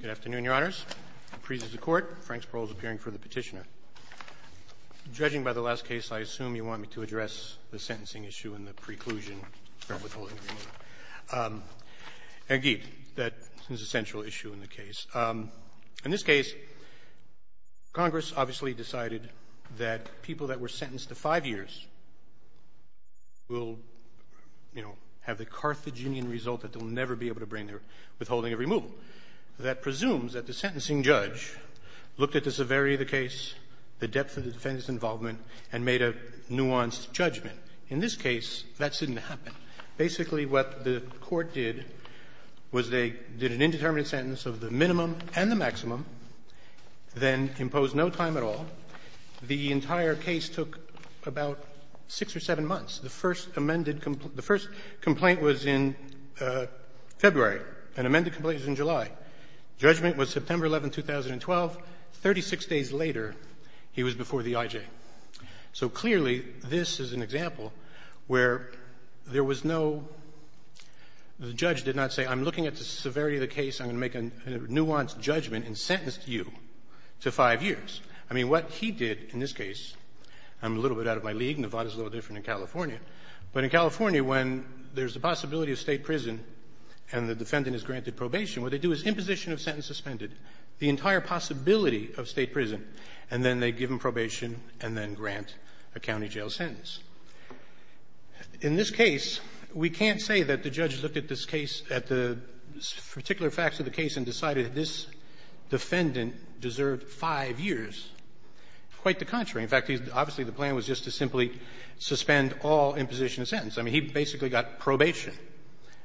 Good afternoon, Your Honors. Appreciate the court. Frank Sproul is appearing for the petitioner. Judging by the last case, I assume you want me to address the sentencing issue and the preclusion of withholding a removal. Indeed, that is a central issue in the case. In this case, Congress obviously decided that people that were sentenced to five years will have the Carthaginian result that they'll never be able to bring their withholding of removal. That presumes that the sentencing judge looked at the severity of the case, the depth of the defendant's involvement, and made a nuanced judgment. In this case, that didn't happen. Basically, what the court did was they did an indeterminate sentence of the minimum and the maximum, then imposed no time at all. The entire case took about six or seven months. The first amended the first complaint was in February. An amended complaint was in July. Judgment was September 11, 2012. Thirty-six days later, he was before the IJ. So clearly, this is an example where there was no the judge did not say, I'm looking at the severity of the case. I'm going to make a nuanced judgment and sentence you to five years. I mean, what he did in this case, I'm a little bit out of my league. Nevada is a little different than California. But in California, when there's a possibility of State prison and the defendant is granted probation, what they do is imposition of sentence suspended, the entire possibility of State prison, and then they give him probation and then grant a county jail sentence. In this case, we can't say that the judge looked at this case, at the particular facts of the case, and decided this defendant deserved five years. Quite the contrary. In fact, obviously, the plan was just to simply suspend all imposition of sentence. I mean, he basically got probation.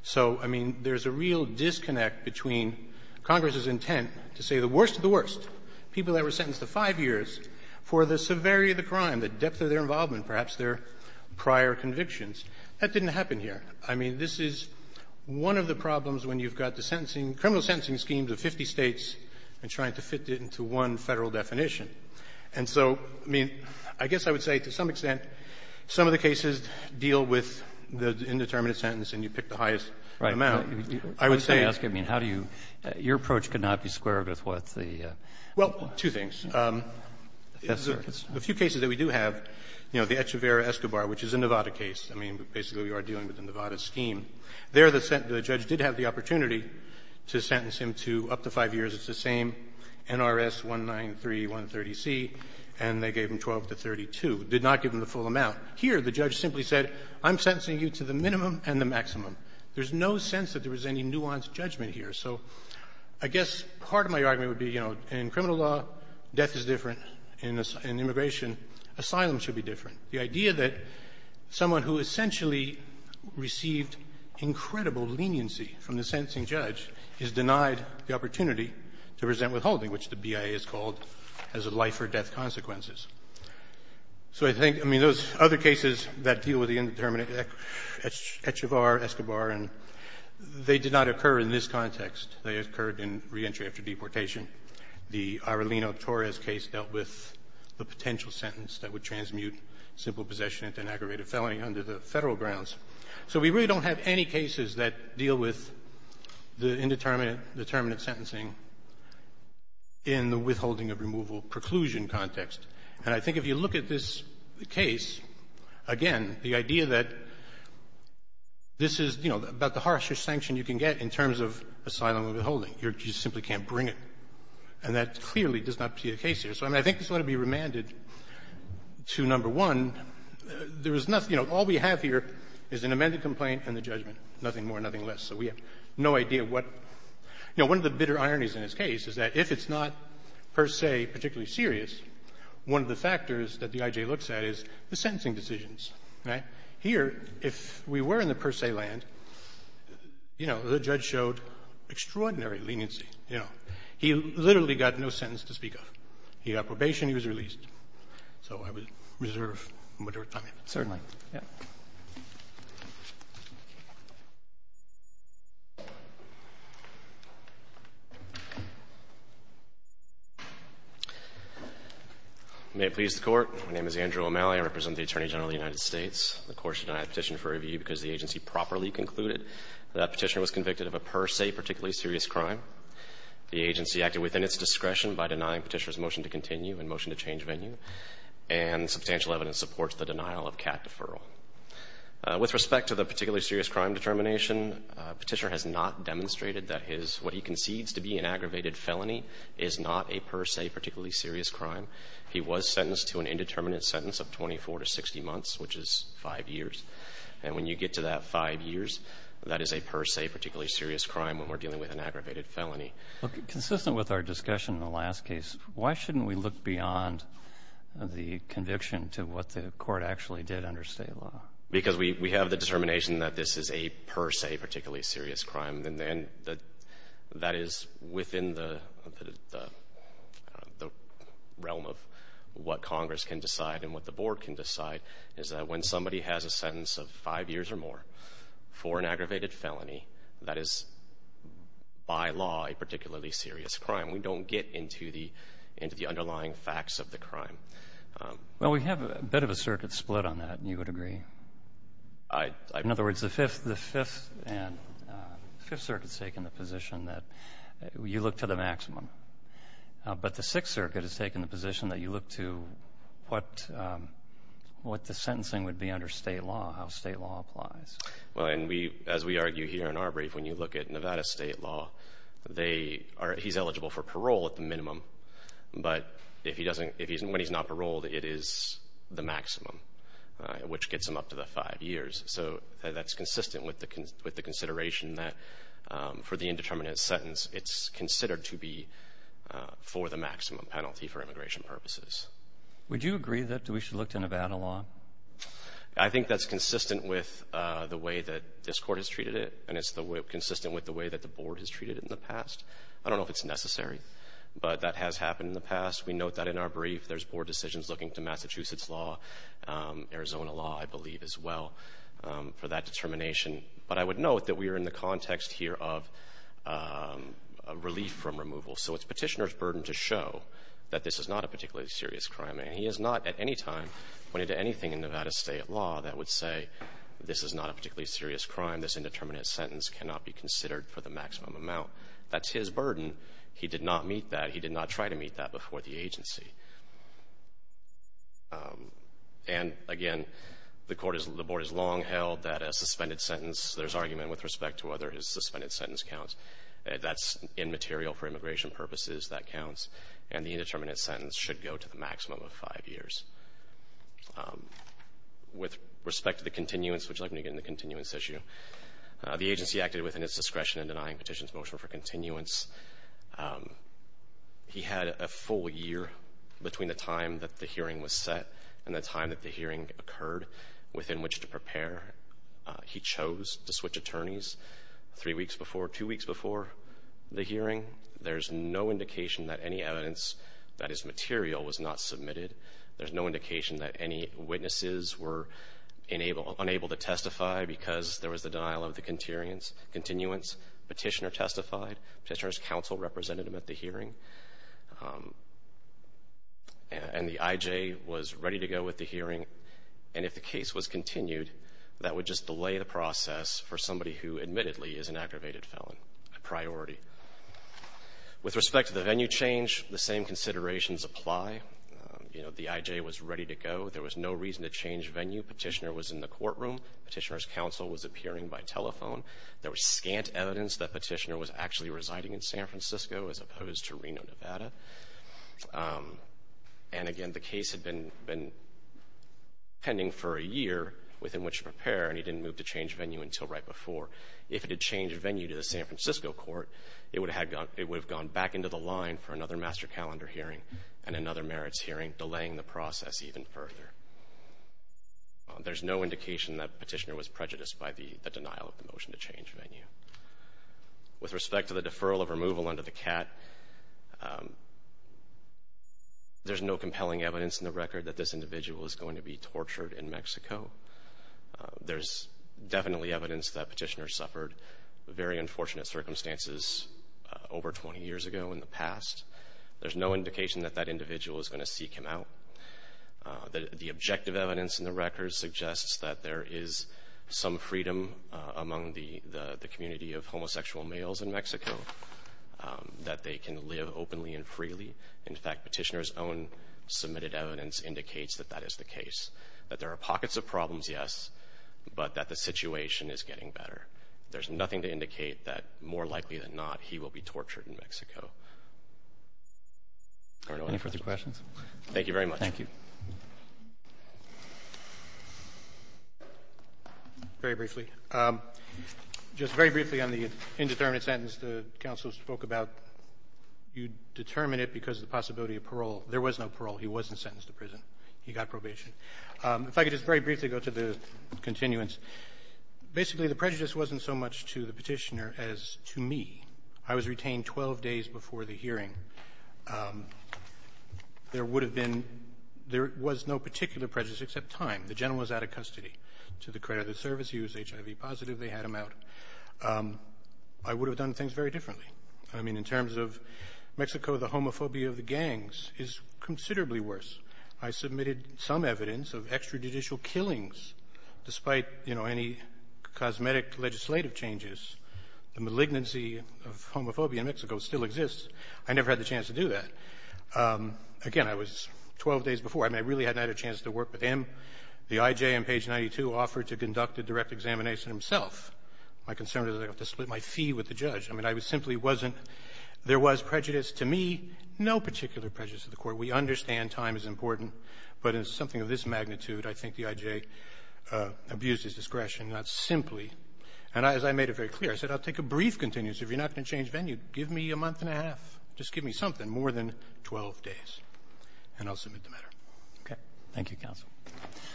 So, I mean, there's a real disconnect between Congress's intent to say the worst of the worst, people that were sentenced to five years for the severity of the crime, the depth of their involvement, perhaps their prior convictions. That didn't happen here. I mean, this is one of the problems when you've got the sentencing, criminal sentencing schemes of 50 States and trying to fit it into one Federal definition. And so, I mean, I guess I would say to some extent, some of the cases deal with the indeterminate sentence, and you pick the highest amount. I would say you're asking, I mean, how do you – your approach could not be squared with what the – Well, two things. A few cases that we do have, you know, the Echeverria-Escobar, which is a Nevada case. I mean, basically, we are dealing with the Nevada scheme. There, the judge did have the opportunity to sentence him to up to five years. It's the same NRS-193-130C, and they gave him 12 to 32. Did not give him the full amount. Here, the judge simply said, I'm sentencing you to the minimum and the maximum. There's no sense that there was any nuanced judgment here. So I guess part of my argument would be, you know, in criminal law, death is different. In immigration, asylum should be different. The idea that someone who essentially received incredible leniency from the sentencing judge is denied the opportunity to present withholding, which the BIA is called as a life-or-death consequences. So I think – I mean, those other cases that deal with the indeterminate Echeverria-Escobar, and they did not occur in this context. They occurred in reentry after deportation. The Arellino-Torres case dealt with the potential sentence that would transmute simple possession into an aggravated felony under the Federal grounds. So we really don't have any cases that deal with the indeterminate, determinate sentencing in the withholding of removal preclusion context. And I think if you look at this case, again, the idea that this is, you know, about the harsher sanction you can get in terms of asylum and withholding. You simply can't bring it. And that clearly does not see a case here. So, I mean, I think this ought to be remanded to number one. There is nothing – you know, all we have here is an amended complaint and the judgment, nothing more, nothing less. So we have no idea what – you know, one of the bitter ironies in this case is that if it's not per se particularly serious, one of the factors that the I.J. looks at is the sentencing decisions, right? Here, if we were in the per se land, you know, the judge showed extraordinary leniency, you know. He literally got no sentence to speak of. He got probation. He was released. So I would reserve my time. Robertson, certainly. May it please the Court. My name is Andrew O'Malley. I represent the Attorney General of the United States. The Court should not have a petition for review because the agency properly concluded that that petitioner was convicted of a per se particularly serious crime. The agency acted within its discretion by denying Petitioner's motion to continue and motion to change venue. And substantial evidence supports the denial of CAT deferral. With respect to the particularly serious crime determination, Petitioner has not demonstrated that his – what he concedes to be an aggravated felony is not a per se particularly serious crime. He was sentenced to an indeterminate sentence of 24 to 60 months, which is 5 years. And when you get to that 5 years, that is a per se particularly serious crime when we're dealing with an aggravated felony. Look, consistent with our discussion in the last case, why shouldn't we look beyond the conviction to what the Court actually did under state law? Because we have the determination that this is a per se particularly serious crime. And then that is within the realm of what Congress can decide and what the Board can decide is that when somebody has a sentence of 5 years or more for an aggravated felony, that is, by law, a particularly serious crime. We don't get into the underlying facts of the crime. Well, we have a bit of a circuit split on that, and you would agree. In other words, the Fifth Circuit has taken the position that you look to the maximum. But the Sixth Circuit has taken the position that you look to what the sentencing would be under state law, how state law applies. Well, and we, as we argue here in our brief, when you look at Nevada state law, they are, he's eligible for parole at the minimum. But if he doesn't, if he's, when he's not paroled, it is the maximum, which gets him up to the 5 years. So that's consistent with the consideration that for the indeterminate sentence, it's considered to be for the maximum penalty for immigration purposes. Would you agree that we should look to Nevada law? I think that's consistent with the way that this Court has treated it, and it's consistent with the way that the Board has treated it in the past. I don't know if it's necessary, but that has happened in the past. We note that in our brief, there's Board decisions looking to Massachusetts law, Arizona law, I believe, as well, for that determination. But I would note that we are in the context here of relief from removal. So it's Petitioner's burden to show that this is not a particularly serious crime. He has not at any time pointed to anything in Nevada state law that would say, this is not a particularly serious crime. This indeterminate sentence cannot be considered for the maximum amount. That's his burden. He did not meet that. He did not try to meet that before the agency. And again, the Court has, the Board has long held that a suspended sentence, there's argument with respect to whether his suspended sentence counts. That's immaterial for immigration purposes. That counts. And the indeterminate sentence should go to the maximum of five years. With respect to the continuance, would you like me to get into the continuance issue? The agency acted within its discretion in denying Petitioner's motion for continuance. He had a full year between the time that the hearing was set and the time that the hearing occurred within which to prepare. He chose to switch attorneys three weeks before, two weeks before the hearing. There's no indication that any evidence that is material was not submitted. There's no indication that any witnesses were unable to testify because there was the denial of the continuance. Petitioner testified. Petitioner's counsel represented him at the hearing. And the IJ was ready to go with the hearing. And if the case was continued, that would just delay the process for somebody who admittedly is an aggravated felon, a priority. With respect to the venue change, the same considerations apply. You know, the IJ was ready to go. There was no reason to change venue. Petitioner was in the courtroom. Petitioner's counsel was appearing by telephone. There was scant evidence that Petitioner was actually residing in San Francisco as opposed to Reno, Nevada. And again, the case had been pending for a year within which to prepare, and he didn't move to change venue until right before. If it had changed venue to the San Francisco court, it would have gone back into the line for another master calendar hearing and another merits hearing, delaying the process even further. There's no indication that Petitioner was prejudiced by the denial of the motion to change venue. With respect to the deferral of removal under the CAT, there's no compelling evidence in the record that this individual is going to be tortured in Mexico. There's definitely evidence that Petitioner suffered very unfortunate circumstances over 20 years ago in the past. There's no indication that that individual is going to seek him out. The objective evidence in the record suggests that there is some freedom among the community of homosexual males in Mexico, that they can live openly and freely. In fact, Petitioner's own submitted evidence indicates that that is the case. That there are pockets of problems, yes, but that the situation is getting better. There's nothing to indicate that, more likely than not, he will be tortured in Mexico. Are there any further questions? Thank you very much. Thank you. Very briefly. Just very briefly on the indeterminate sentence the counsel spoke about. You determine it because of the possibility of parole. There was no parole. He wasn't sentenced to prison. He got probation. If I could just very briefly go to the continuance. Basically, the prejudice wasn't so much to the Petitioner as to me. I was retained 12 days before the hearing. There would have been no particular prejudice except time. The gentleman was out of custody to the credit of the service. He was HIV positive. They had him out. I would have done things very differently. I mean, in terms of Mexico, the homophobia of the gangs is considerably worse. I submitted some evidence of extrajudicial killings. Despite, you know, any cosmetic legislative changes, the malignancy of homophobia in Mexico still exists. I never had the chance to do that. Again, I was 12 days before. I mean, I really hadn't had a chance to work with him. The I.J. on page 92 offered to conduct a direct examination himself. My concern was I'd have to split my fee with the judge. I mean, I simply wasn't — there was prejudice to me, no particular prejudice to the Court. We understand time is important, but in something of this magnitude, I think the I.J. abused his discretion, not simply. And as I made it very clear, I said, I'll take a brief continuance. If you're not going to change venue, give me a month and a half. Just give me something more than 12 days, and I'll submit the matter. Okay. Thank you, counsel.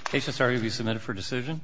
HSRE will be submitted for decision.